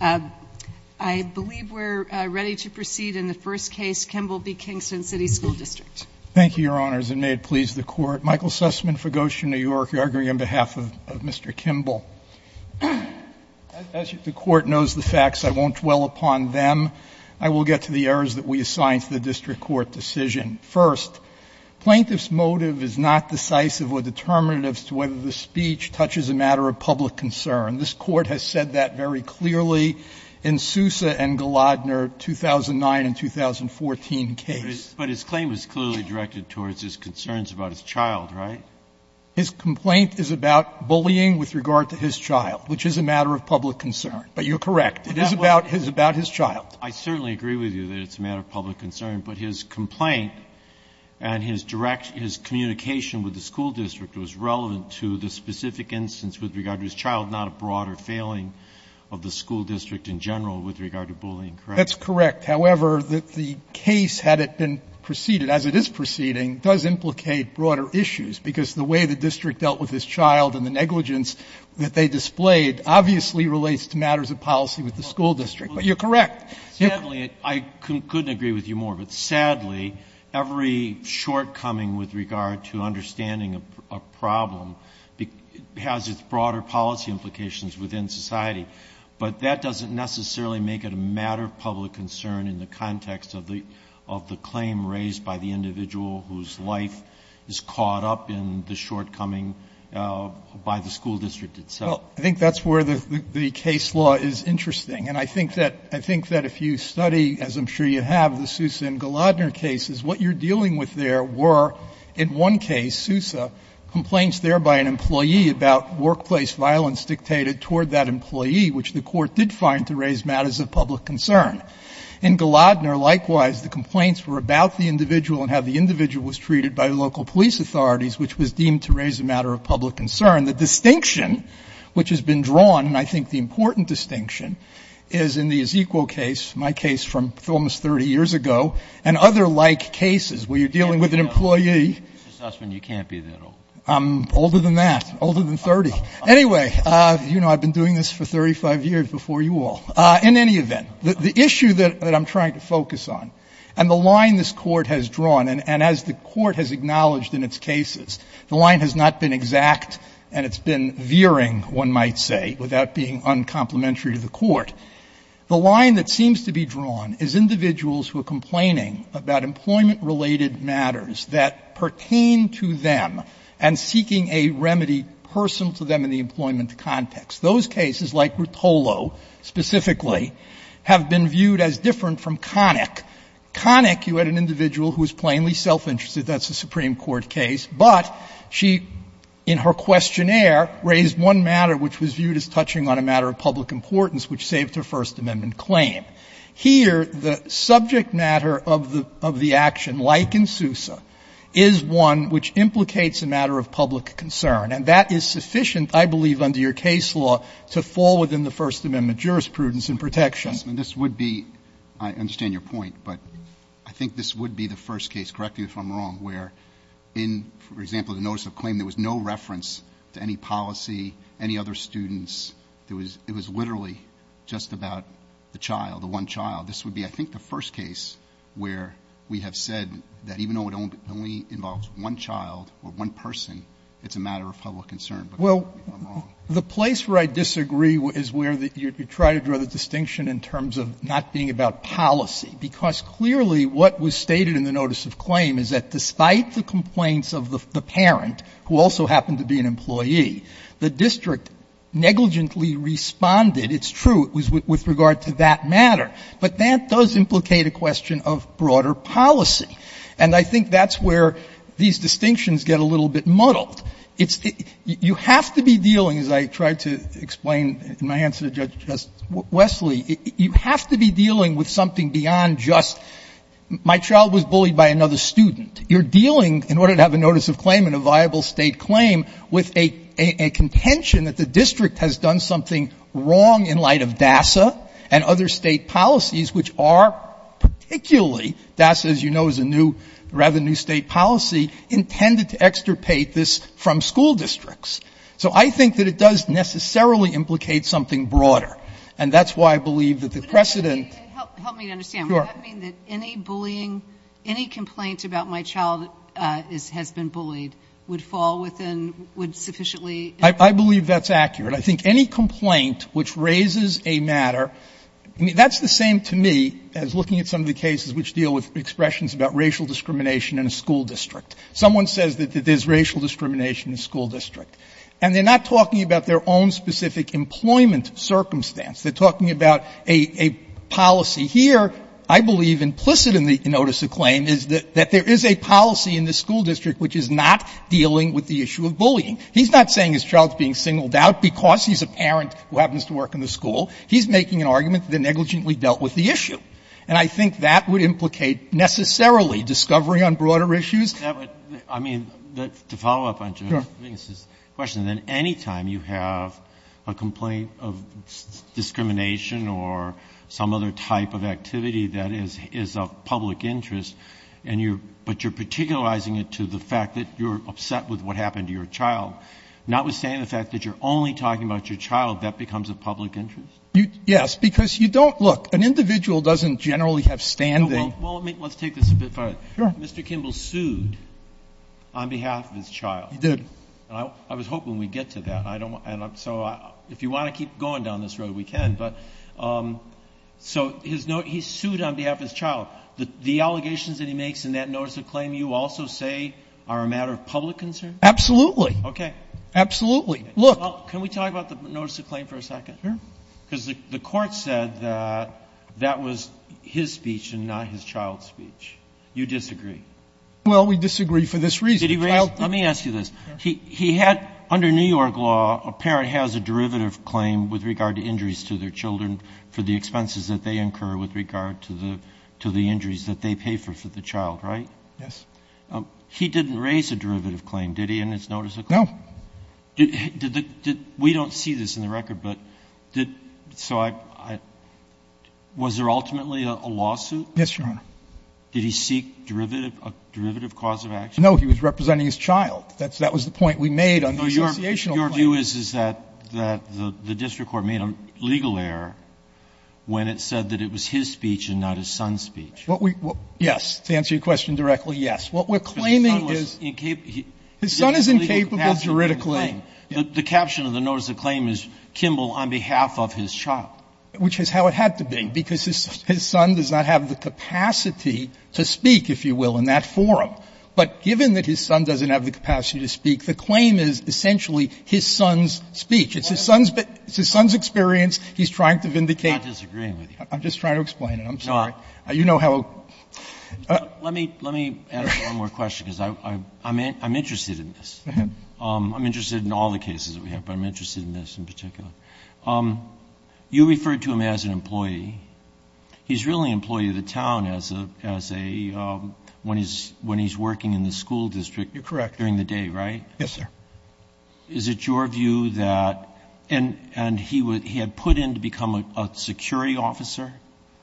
District. I believe we're ready to proceed in the first case, Kimble v. Kingston City School District. Thank you, Your Honors, and may it please the Court. Michael Sussman, Fugosia, New York. You're arguing on behalf of Mr. Kimble. As the Court knows the facts, I won't dwell upon them. I will get to the errors that we assign to the District Court decision. First, plaintiff's motive is not decisive or determinative as to whether the speech touches a matter of public concern. This Court has said that very clearly in Sousa and Gladner, 2009 and 2014 case. But his claim was clearly directed towards his concerns about his child, right? His complaint is about bullying with regard to his child, which is a matter of public concern. But you're correct. It is about his child. I certainly agree with you that it's a matter of public concern, but his complaint and his direct his communication with the school district was relevant to the specific instance with regard to his child, not a broader failing of the school district in general with regard to bullying, correct? That's correct. However, the case, had it been preceded, as it is proceeding, does implicate broader issues, because the way the district dealt with his child and the negligence that they displayed obviously relates to matters of policy with the school district. But you're correct. Sadly, I couldn't agree with you more, but sadly, every shortcoming with regard to understanding a problem has its broader policy implications within society. But that doesn't necessarily make it a matter of public concern in the context of the claim raised by the individual whose life is caught up in the shortcoming by the school district itself. Well, I think that's where the case law is interesting. And I think that if you study, as I'm sure you have, the Sousa and Gladner cases, what you're dealing with there were, in one case, Sousa, complaints there by an employee about workplace violence dictated toward that employee, which the Court did find to raise matters of public concern. In Gladner, likewise, the complaints were about the individual and how the individual was treated by local police authorities, which was deemed to raise a matter of public concern. The distinction which has been drawn, and I think the important distinction, is in the Ezekiel case, my case from almost 30 years ago, and other like cases where you're dealing with an employee. Mr. Sussman, you can't be that old. I'm older than that, older than 30. Anyway, I've been doing this for 35 years before you all. In any event, the issue that I'm trying to focus on and the line this Court has drawn, and as the Court has acknowledged in its cases, the line has not been exact and it's been veering, one might say, without being uncomplimentary to the Court. The line that seems to be drawn is individuals who are complaining about employment-related matters that pertain to them and seeking a remedy personal to them in the employment context. Those cases, like Rotolo specifically, have been viewed as different from Connick. Connick, you had an individual who was plainly self-interested. That's a Supreme Court case. But she, in her questionnaire, raised one matter which was viewed as touching on a matter of public importance which saved her First Amendment claim. Here, the subject matter of the action, like in Sousa, is one which implicates a matter of public concern, and that is sufficient, I believe, under your case law, to fall within the First Amendment jurisprudence and protection. Roberts, this would be, I understand your point, but I think this would be the first case, correct me if I'm wrong, where in, for example, the notice of claim, there was no reference to any policy, any other students. It was literally just about the child, the one child. This would be, I think, the first case where we have said that even though it only involves one child or one person, it's a matter of public concern. Well, the place where I disagree is where you try to draw the distinction in terms of not being about policy, because clearly what was stated in the notice of claim is that despite the complaints of the parent, who also happened to be an employee, the district negligently responded, it's true, with regard to that matter, but that does implicate a question of broader policy. And I think that's where these distinctions get a little bit muddled. It's the — you have to be dealing, as I tried to explain in my answer to Judge Wesley, you have to be dealing with something beyond just my child was bullied by another student. You're dealing, in order to have a notice of claim and a viable State claim, with a contention that the district has done something wrong in light of DASA and other State policies, which are particularly — DASA, as you know, is a new, rather new State policy intended to extirpate this from school districts. So I think that it does necessarily implicate something broader. And that's why I believe that the precedent — Help me to understand. Would that mean that any bullying — any complaint about my child has been bullied would fall within — would sufficiently — I believe that's accurate. I think any complaint which raises a matter — I mean, that's the same to me as looking at some of the cases which deal with expressions about racial discrimination in a school district. Someone says that there's racial discrimination in a school district, and they're not talking about their own specific employment circumstance. They're talking about a policy here, I believe implicit in the notice of claim, is that there is a policy in the school district which is not dealing with the issue of bullying. He's not saying his child's being singled out because he's a parent who happens to work in the school. He's making an argument that they negligently dealt with the issue. And I think that would implicate necessarily discovery on broader issues. I mean, to follow up on Judge Mingus's question, then any time you have a complaint of discrimination or some other type of activity that is of public interest, and you're — but you're particularizing it to the fact that you're upset with what happened to your child, notwithstanding the fact that you're only talking about your child, that becomes a public interest? Yes. Because you don't — look, an individual doesn't generally have standing. Well, let me — let's take this a bit further. Sure. Mr. Kimball sued on behalf of his child. He did. And I was hoping we'd get to that. I don't want — so if you want to keep going down this road, we can. But so his — he sued on behalf of his child. The allegations that he makes in that notice of claim you also say are a matter of public concern? Absolutely. Okay. Absolutely. Look — Well, can we talk about the notice of claim for a second? Sure. Because the Court said that that was his speech and not his child's speech. You disagree? Well, we disagree for this reason. Did he raise — let me ask you this. He had — under New York law, a parent has a derivative claim with regard to injuries to their children for the expenses that they incur with regard to the — to the injuries that they pay for the child, right? Yes. He didn't raise a derivative claim, did he, in his notice of claim? No. Did the — we don't see this in the record, but did — so I — was there ultimately a lawsuit? Yes, Your Honor. Did he seek derivative — a derivative cause of action? No. He was representing his child. That's — that was the point we made on the associational claim. No. Your view is that the district court made a legal error when it said that it was his speech and not his son's speech. What we — yes. To answer your question directly, yes. What we're claiming is — But his son was incapable — His son is incapable, juridically. The caption of the notice of claim is, Kimball on behalf of his child. Which is how it had to be, because his son does not have the capacity to speak, if you will, in that forum. But given that his son doesn't have the capacity to speak, the claim is essentially his son's speech. It's his son's — it's his son's experience. He's trying to vindicate — I'm not disagreeing with you. I'm just trying to explain it. I'm sorry. You know how — Let me — let me ask one more question, because I'm interested in this. Go ahead. I'm interested in all the cases that we have, but I'm interested in this in particular. You referred to him as an employee. He's really an employee of the town as a — when he's working in the school district. You're correct. During the day, right? Yes, sir. Is it your view that — and he had put in to become a security officer?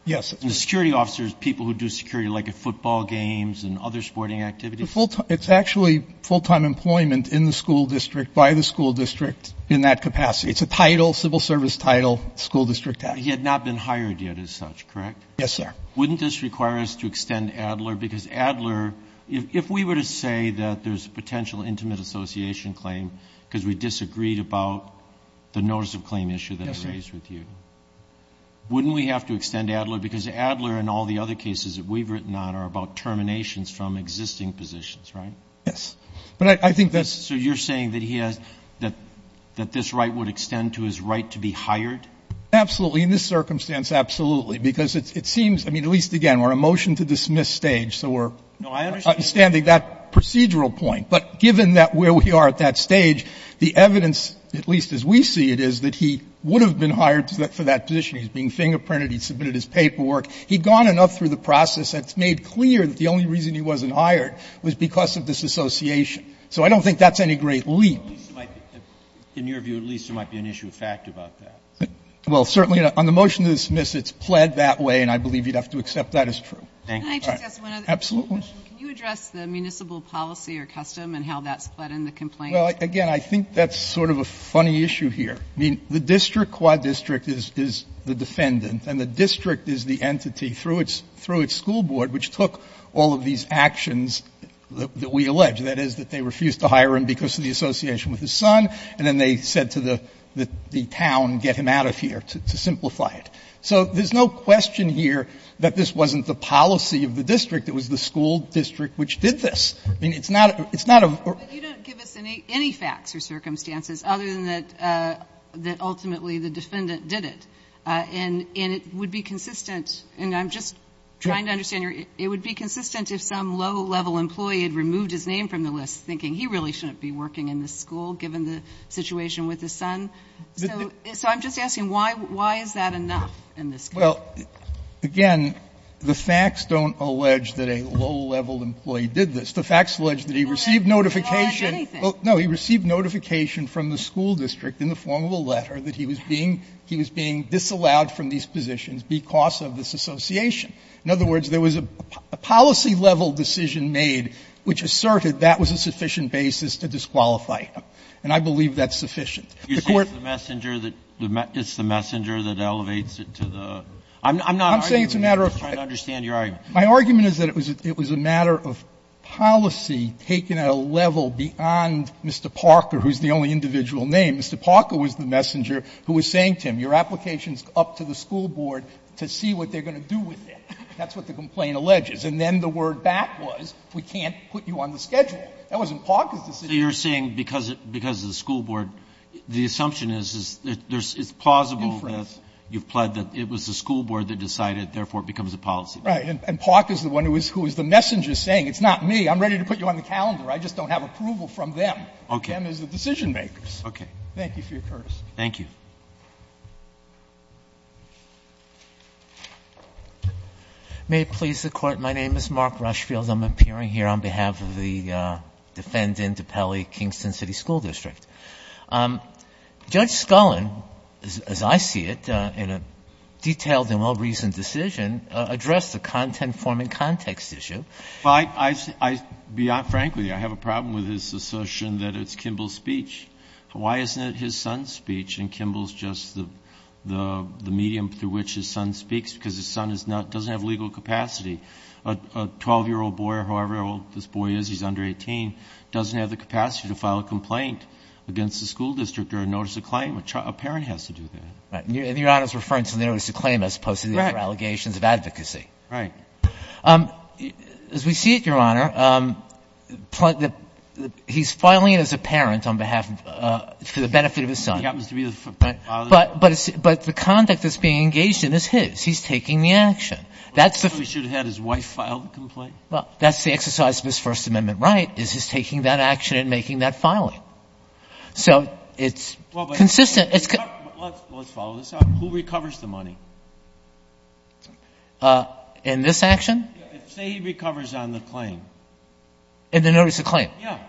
Yes. The security officer is people who do security, like at football games and other sporting activities? It's actually full-time employment in the school district, by the school district, in that capacity. It's a title, civil service title, school district act. He had not been hired yet as such, correct? Yes, sir. Wouldn't this require us to extend Adler? Because Adler — if we were to say that there's a potential intimate association claim because we disagreed about the notice of claim issue that I raised with you, wouldn't we have to extend Adler and all the other cases that we've written on are about terminations from existing positions, right? Yes. But I think that's — So you're saying that he has — that this right would extend to his right to be hired? Absolutely. In this circumstance, absolutely, because it seems — I mean, at least, again, we're on a motion-to-dismiss stage, so we're — No, I understand —— understanding that procedural point. But given that — where we are at that stage, the evidence, at least as we see it, is that he would have been hired for that position. He's being fingerprinted. He's submitted his paperwork. He'd gone enough through the process that's made clear that the only reason he wasn't hired was because of this association. So I don't think that's any great leap. In your view, at least there might be an issue of fact about that. Well, certainly on the motion-to-dismiss, it's pled that way, and I believe you'd have to accept that as true. Thank you. Can I just ask one other question? Absolutely. Can you address the municipal policy or custom and how that's pled in the complaint? Well, again, I think that's sort of a funny issue here. I mean, the district, Quad District, is the defendant, and the district is the entity through its school board, which took all of these actions that we allege, that is, that they refused to hire him because of the association with his son, and then they said to the town, get him out of here, to simplify it. So there's no question here that this wasn't the policy of the district. It was the school district which did this. I mean, it's not — it's not a — But you don't give us any facts or circumstances other than that ultimately the defendant did it. And it would be consistent — and I'm just trying to understand your — it would be consistent if some low-level employee had removed his name from the list, thinking he really shouldn't be working in this school, given the situation with his son? So I'm just asking, why is that enough in this case? Well, again, the facts don't allege that a low-level employee did this. The facts allege that he received notification — Well, no, he received notification from the school district in the form of a letter that he was being — he was being disallowed from these positions because of this association. In other words, there was a policy-level decision made which asserted that was a sufficient basis to disqualify him. And I believe that's sufficient. The Court — You're saying it's the messenger that — it's the messenger that elevates it to the — I'm saying it's a matter of — I'm just trying to understand your argument. My argument is that it was a matter of policy taken at a level beyond Mr. Parker, who's the only individual named. Mr. Parker was the messenger who was saying to him, your application is up to the school board to see what they're going to do with it. That's what the complaint alleges. And then the word back was, we can't put you on the schedule. That wasn't Parker's decision. So you're saying because of the school board, the assumption is that there's plausible that you've pled that it was the school board that decided, therefore, it becomes a policy. Right. And Parker's the one who was the messenger saying, it's not me. I'm ready to put you on the calendar. I just don't have approval from them. Okay. Them as the decision-makers. Okay. Thank you for your courtesy. Thank you. May it please the Court. My name is Mark Rushfield. I'm appearing here on behalf of the defendant, Depele, Kingston City School District. Judge Scullin, as I see it, in a detailed and well-reasoned decision, addressed the content-forming context issue. Well, I, I, I, beyond frankly, I have a problem with his assertion that it's Kimball's speech. Why isn't it his son's speech and Kimball's just the, the, the medium through which his son speaks because his son is not, doesn't have legal capacity. A, a 12-year-old boy or however old this boy is, he's under 18, doesn't have the capacity to file a complaint. Against the school district or a notice of claim, a child, a parent has to do that. Right. And your Honor's referring to the notice of claim as opposed to the allegations of advocacy. Right. Um, as we see it, your Honor, um, the, he's filing it as a parent on behalf of, uh, for the benefit of his son. He happens to be the father. But, but it's, but the conduct that's being engaged in is his, he's taking the action. That's the. So he should have had his wife file the complaint? Well, that's the exercise of his first amendment right, is his taking that action and making that filing. So it's consistent. It's good. Let's, let's follow this up. Who recovers the money? Uh, in this action? Say he recovers on the claim. In the notice of claim? Yeah.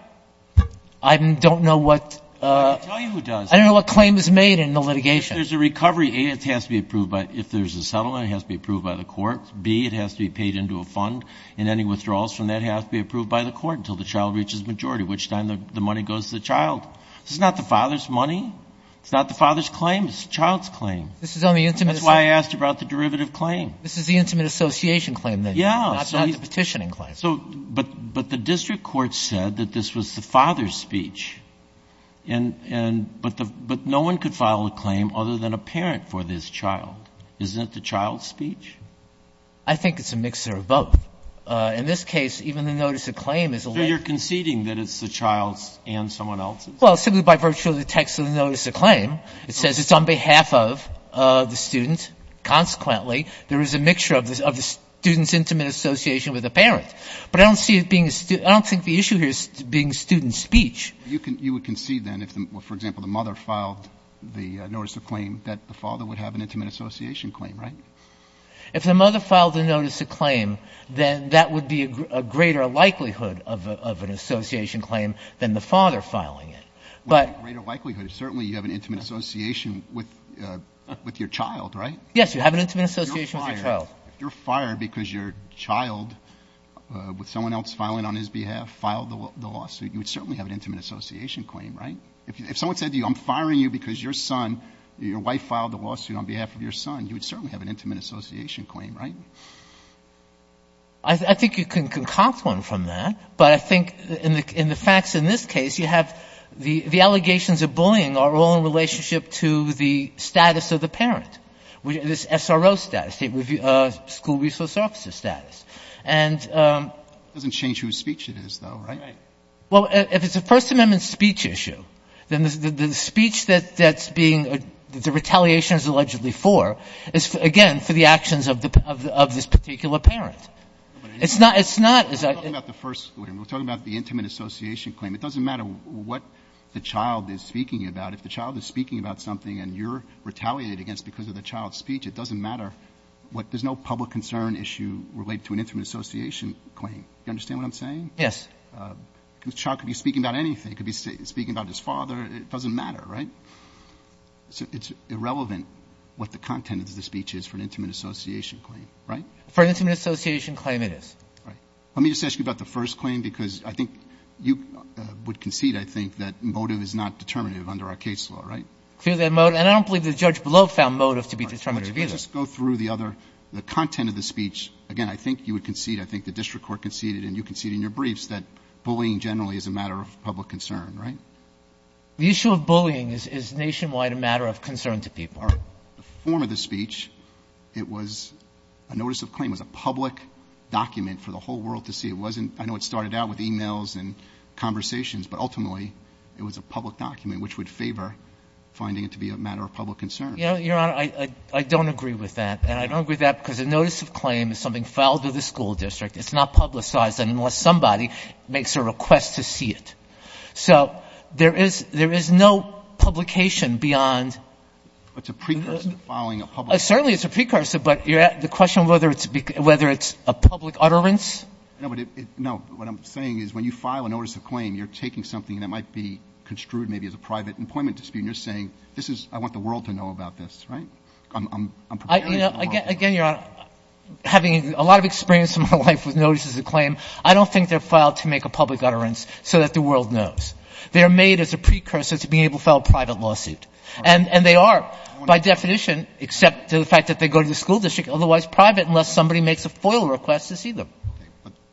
I don't know what, uh, I don't know what claim is made in the litigation. There's a recovery. A, it has to be approved by, if there's a settlement, it has to be approved by the court. B, it has to be paid into a fund and any withdrawals from that has to be approved by the court until the child reaches majority, which time the money goes to the child. This is not the father's money. It's not the father's claim. It's the child's claim. This is only intimate. That's why I asked about the derivative claim. This is the intimate association claim then. Yeah. It's not the petitioning claim. So, but, but the district court said that this was the father's speech and, and, but the, but no one could file a claim other than a parent for this child. Isn't it the child's speech? I think it's a mixer of both. Uh, in this case, even the notice of claim is a little. So you're conceding that it's the child's and someone else's? Well, simply by virtue of the text of the notice of claim, it says it's on behalf of, uh, the student. Consequently, there is a mixture of this, of the student's intimate association with the parent, but I don't see it being, I don't think the issue here is being student speech. You can, you would concede then if, for example, the mother filed the notice of claim that the father would have an intimate association claim, right? If the mother filed the notice of claim, then that would be a greater likelihood of a, of an association claim than the father filing it. But. But a greater likelihood, certainly you have an intimate association with, uh, with your child, right? Yes. You have an intimate association with your child. If you're fired, if you're fired because your child, uh, with someone else filing on his behalf, filed the lawsuit, you would certainly have an intimate association claim, right? If, if someone said to you, I'm firing you because your son, your wife filed a lawsuit on behalf of your son, you would certainly have an intimate association claim, right? I think you can concoct one from that, but I think in the, in the facts in this case, you have the, the allegations of bullying are all in relationship to the status of the parent, which is SRO status, state school resource officer status. And, um. It doesn't change who's speech it is though, right? Well, if it's a first amendment speech issue, then the speech that that's being, the retaliation is allegedly for, is again, for the actions of the, of the, of this particular parent. It's not, it's not as I. We're talking about the first, we're talking about the intimate association claim. It doesn't matter what the child is speaking about. If the child is speaking about something and you're retaliated against because of the child's speech, it doesn't matter what, there's no public concern issue related to an intimate association claim. You understand what I'm saying? Yes. The child could be speaking about anything. It could be speaking about his father. It doesn't matter, right? So it's irrelevant what the content of the speech is for an intimate association claim, right? For an intimate association claim it is. Right. Let me just ask you about the first claim because I think you would concede, I think, that motive is not determinative under our case law, right? Clearly motive, and I don't believe the judge below found motive to be determinative either. Just go through the other, the content of the speech. Again, I think you would concede, I think the district court conceded and you conceded in your briefs that bullying generally is a matter of public concern, right? The issue of bullying is, is nationwide a matter of concern to people. All right. The form of the speech, it was a notice of claim was a public document for the whole world to see. It wasn't, I know it started out with emails and conversations, but ultimately it was a public document, which would favor finding it to be a matter of public concern. You know, Your Honor, I, I don't agree with that. And I don't agree with that because a notice of claim is something filed to the school district. It's not publicized unless somebody makes a request to see it. So there is, there is no publication beyond. It's a precursor to filing a public. Certainly it's a precursor, but the question of whether it's, whether it's a public utterance. No, but it, no, what I'm saying is when you file a notice of claim, you're taking something that might be construed maybe as a private employment dispute. And you're saying, this is, I want the world to know about this, right? I'm, I'm, I'm preparing. Again, you're having a lot of experience in my life with notices of claim. I don't think they're filed to make a public utterance so that the world knows they're made as a precursor to being able to file a private lawsuit. And they are by definition, except to the fact that they go to the school district, otherwise private, unless somebody makes a FOIL request to see them.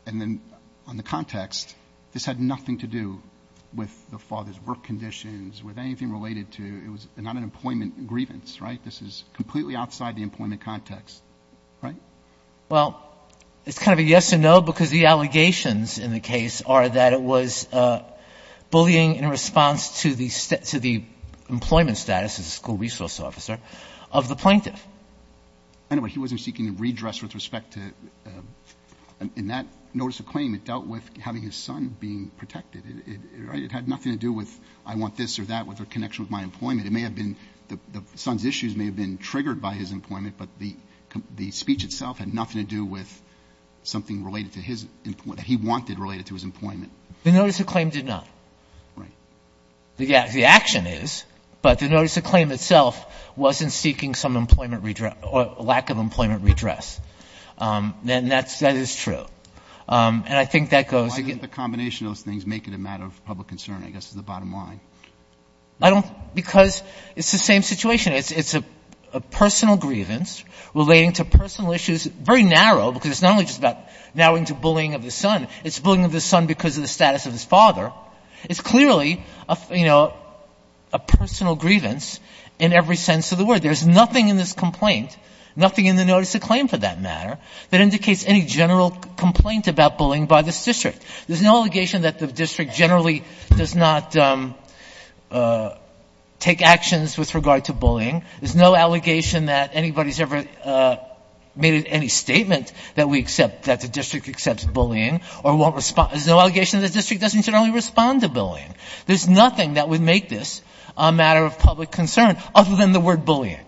And then on the context, this had nothing to do with the father's work conditions with anything related to, it was not an employment grievance, right? This is completely outside the employment context, right? Well, it's kind of a yes and no, because the allegations in the case are that it was a bullying in response to the, to the employment status as a school resource officer of the plaintiff. Anyway, he wasn't seeking a redress with respect to, in that notice of claim, it dealt with having his son being protected. It had nothing to do with, I want this or that with a connection with my employment. It may have been, the son's issues may have been triggered by his employment, but the speech itself had nothing to do with something related to his, that he wanted related to his employment. The notice of claim did not. Right. Yeah, the action is, but the notice of claim itself wasn't seeking some lack of employment redress. Then that's, that is true. And I think that goes, the combination of those things make it a matter of public concern, I guess, is the bottom line. I don't, because it's the same situation. It's, it's a personal grievance relating to personal issues, very narrow, because it's not only just about narrowing to bullying of the son, it's bullying of the son because of the status of his father. It's clearly a, you know, a personal grievance in every sense of the word. There's nothing in this complaint, nothing in the notice of claim for that matter, that indicates any general complaint about bullying by this district. There's no allegation that the district generally does not take actions with regard to bullying. There's no allegation that anybody's ever made any statement that we accept that the district accepts bullying or won't respond. There's no allegation that the district doesn't generally respond to bullying. There's nothing that would make this a matter of public concern other than the word bullying.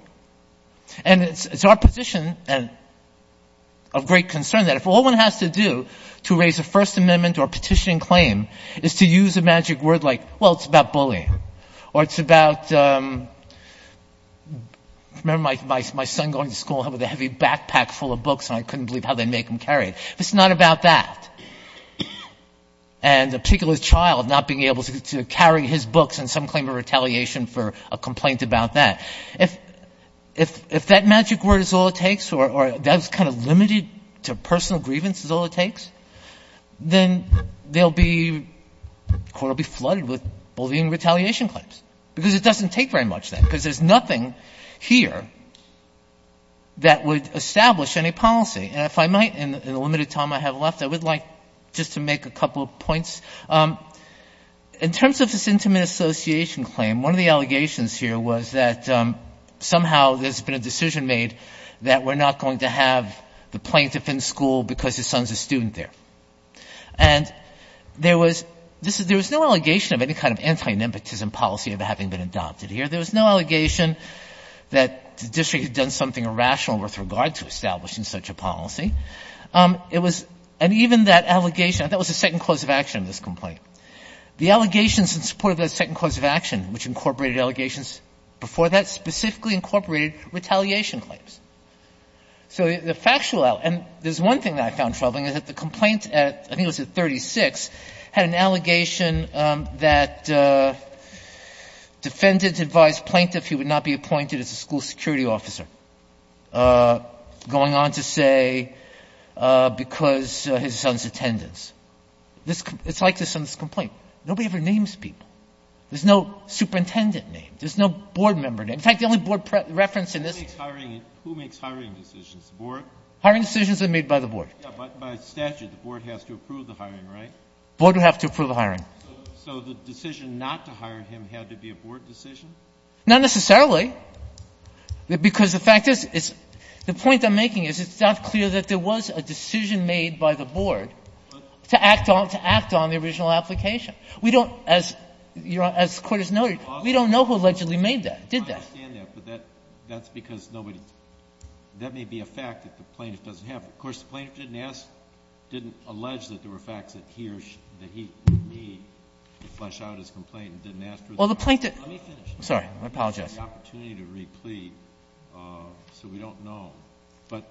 And it's, it's our position and of great concern that if all one has to do to raise a first amendment or petition claim is to use a magic word like, well, it's about bullying or it's about, um, remember my, my, my son going to school with a heavy backpack full of books and I couldn't believe how they make him carry it, if it's not about that, and a particular child not being able to carry his books and some claim of retaliation for a complaint about that, if, if, if that magic word is all it takes or that was kind of limited to personal grievance is all it takes, then there'll be, court will be flooded with bullying retaliation claims because it doesn't take very much then because there's nothing here that would establish any policy. And if I might, in the limited time I have left, I would like just to make a couple points. Um, in terms of this intimate association claim, one of the allegations here was that, um, somehow there's been a decision made that we're not going to have the plaintiff in school because his son's a student there. And there was, this is, there was no allegation of any kind of anti-nymptism policy of having been adopted here. There was no allegation that the district had done something irrational with regard to establishing such a policy. Um, it was, and even that allegation, that was the second cause of action of this complaint. The allegations in support of that second cause of action, which incorporated allegations before that, specifically incorporated retaliation claims. So the factual, and there's one thing that I found troubling is that the complaint at, I think it was at 36, had an allegation, um, that, uh, defendant advised plaintiff he would not be appointed as a school security officer, uh, going on to stay, uh, because, uh, his son's attendance. This, it's like this on this complaint. Nobody ever names people. There's no superintendent name. There's no board member name. In fact, the only board reference in this. Who makes hiring decisions? The board? Hiring decisions are made by the board. Yeah, but by statute, the board has to approve the hiring, right? Board would have to approve the hiring. So the decision not to hire him had to be a board decision? Not necessarily. Because the fact is, is the point I'm making is it's not clear that there was a decision made by the board to act on, to act on the original application. We don't, as you're, as the Court has noted, we don't know who allegedly made that, did that. I understand that, but that, that's because nobody, that may be a fact that the plaintiff doesn't have. Of course, the plaintiff didn't ask, didn't allege that there were facts that he or she, that he, me, could flesh out his complaint and didn't ask for it. Well, the plaintiff. Let me finish. I'm sorry. I apologize. The opportunity to replete, so we don't know, but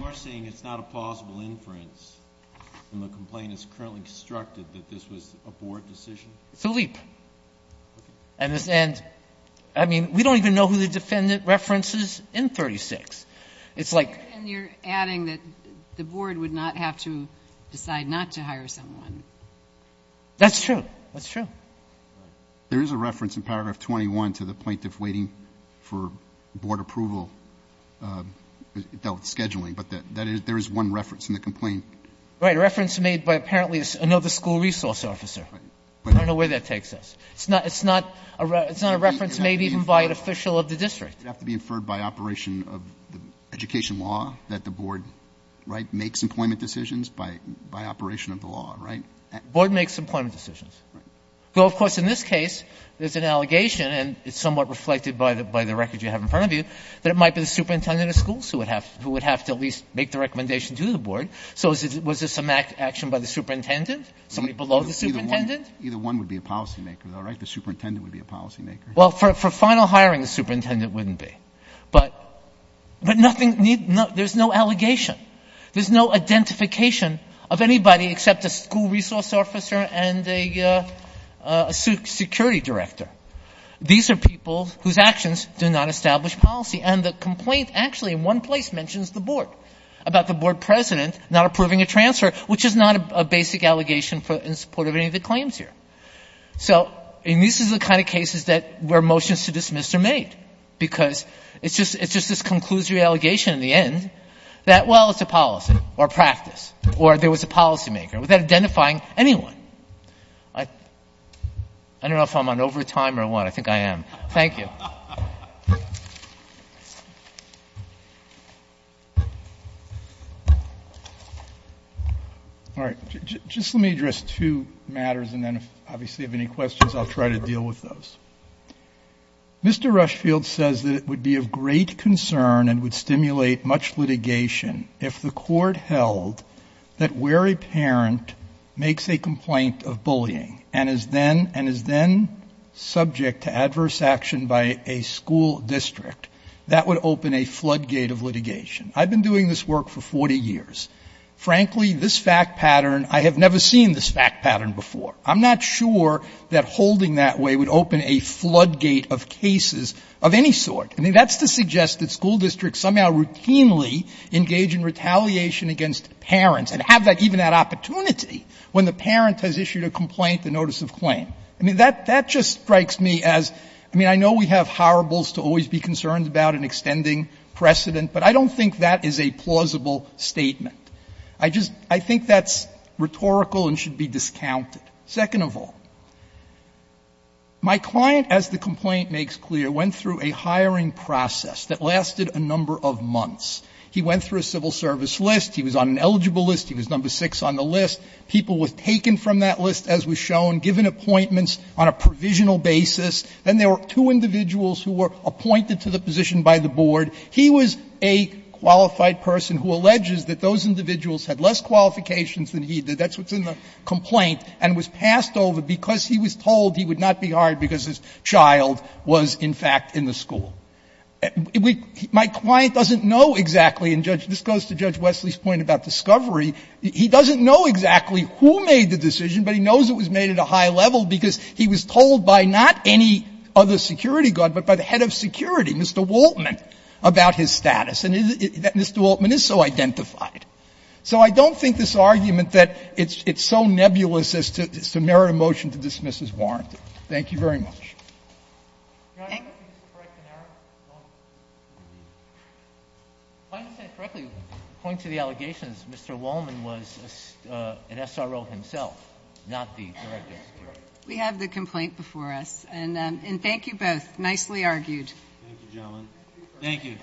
you're saying it's not a plausible inference and the complaint is currently constructed that this was a board decision? It's a leap. And this, and I mean, we don't even know who the defendant references in 36. It's like. And you're adding that the board would not have to decide not to hire someone. That's true. That's true. There is a reference in paragraph 21 to the plaintiff waiting for board approval, uh, though it's scheduling, but that, that is, there is one reference in the complaint. Right. A reference made by apparently another school resource officer. I don't know where that takes us. It's not, it's not a, it's not a reference made even by an official of the district. It would have to be inferred by operation of the education law that the board, right? Makes employment decisions by, by operation of the law, right? Board makes employment decisions. So of course, in this case, there's an allegation and it's somewhat reflected by the, by the record you have in front of you, that it might be the superintendent of schools who would have, who would have to at least make the recommendation to the board. So is it, was this a Mac action by the superintendent, somebody below the superintendent? Either one would be a policymaker though, right? The superintendent would be a policymaker. Well, for, for final hiring, the superintendent wouldn't be, but, but nothing needs, no, there's no allegation. There's no identification of anybody except a school resource officer and a, uh, a security director. These are people whose actions do not establish policy. And the complaint actually in one place mentions the board about the board president not approving a transfer, which is not a basic allegation in support of any of the claims here. So, and this is the kind of cases that where motions to dismiss are made because it's just, it's just this conclusory allegation in the end that, well, it's a policy or practice, or there was a policymaker without identifying anyone. I, I don't know if I'm on overtime or what I think I am. Thank you. All right. Just let me address two matters. And then obviously if any questions, I'll try to deal with those. Mr. Rushfield says that it would be of great concern and would stimulate much litigation if the court held that where a parent makes a complaint of bullying and is then, and is then subject to adverse action by a school district, that would open a flood gate of litigation. I've been doing this work for 40 years. Frankly, this fact pattern, I have never seen this fact pattern before. I'm not sure that holding that way would open a flood gate of cases of any sort. I mean, that's to suggest that school districts somehow routinely engage in retaliation against parents and have that, even that opportunity when the parent has issued a complaint, the notice of claim. I mean, that, that just strikes me as, I mean, I know we have horribles to always be concerned about an extending precedent, but I don't think that is a plausible statement. I just, I think that's rhetorical and should be discounted. Second of all, my client, as the complaint makes clear, went through a hiring process that lasted a number of months. He went through a civil service list. He was on an eligible list. He was number six on the list. People were taken from that list, as was shown, given appointments on a provisional basis. Then there were two individuals who were appointed to the position by the board. He was a qualified person who alleges that those individuals had less qualifications than he did. That's what's in the complaint, and was passed over because he was told he would not be hired because his child was, in fact, in the school. My client doesn't know exactly, and this goes to Judge Wesley's point about discovery, he doesn't know exactly who made the decision, but he knows it was made at a high level because he was told by not any other security guard, but by the head of security, Mr. Waltman, about his status. And Mr. Waltman is so identified. So I don't think this argument that it's so nebulous as to merit a motion to dismiss is warranted. Thank you very much. Thank you. Mr. Wallman was an SRO himself, not the director of security. We have the complaint before us. And thank you both. Nicely argued. Thank you, gentlemen. Thank you.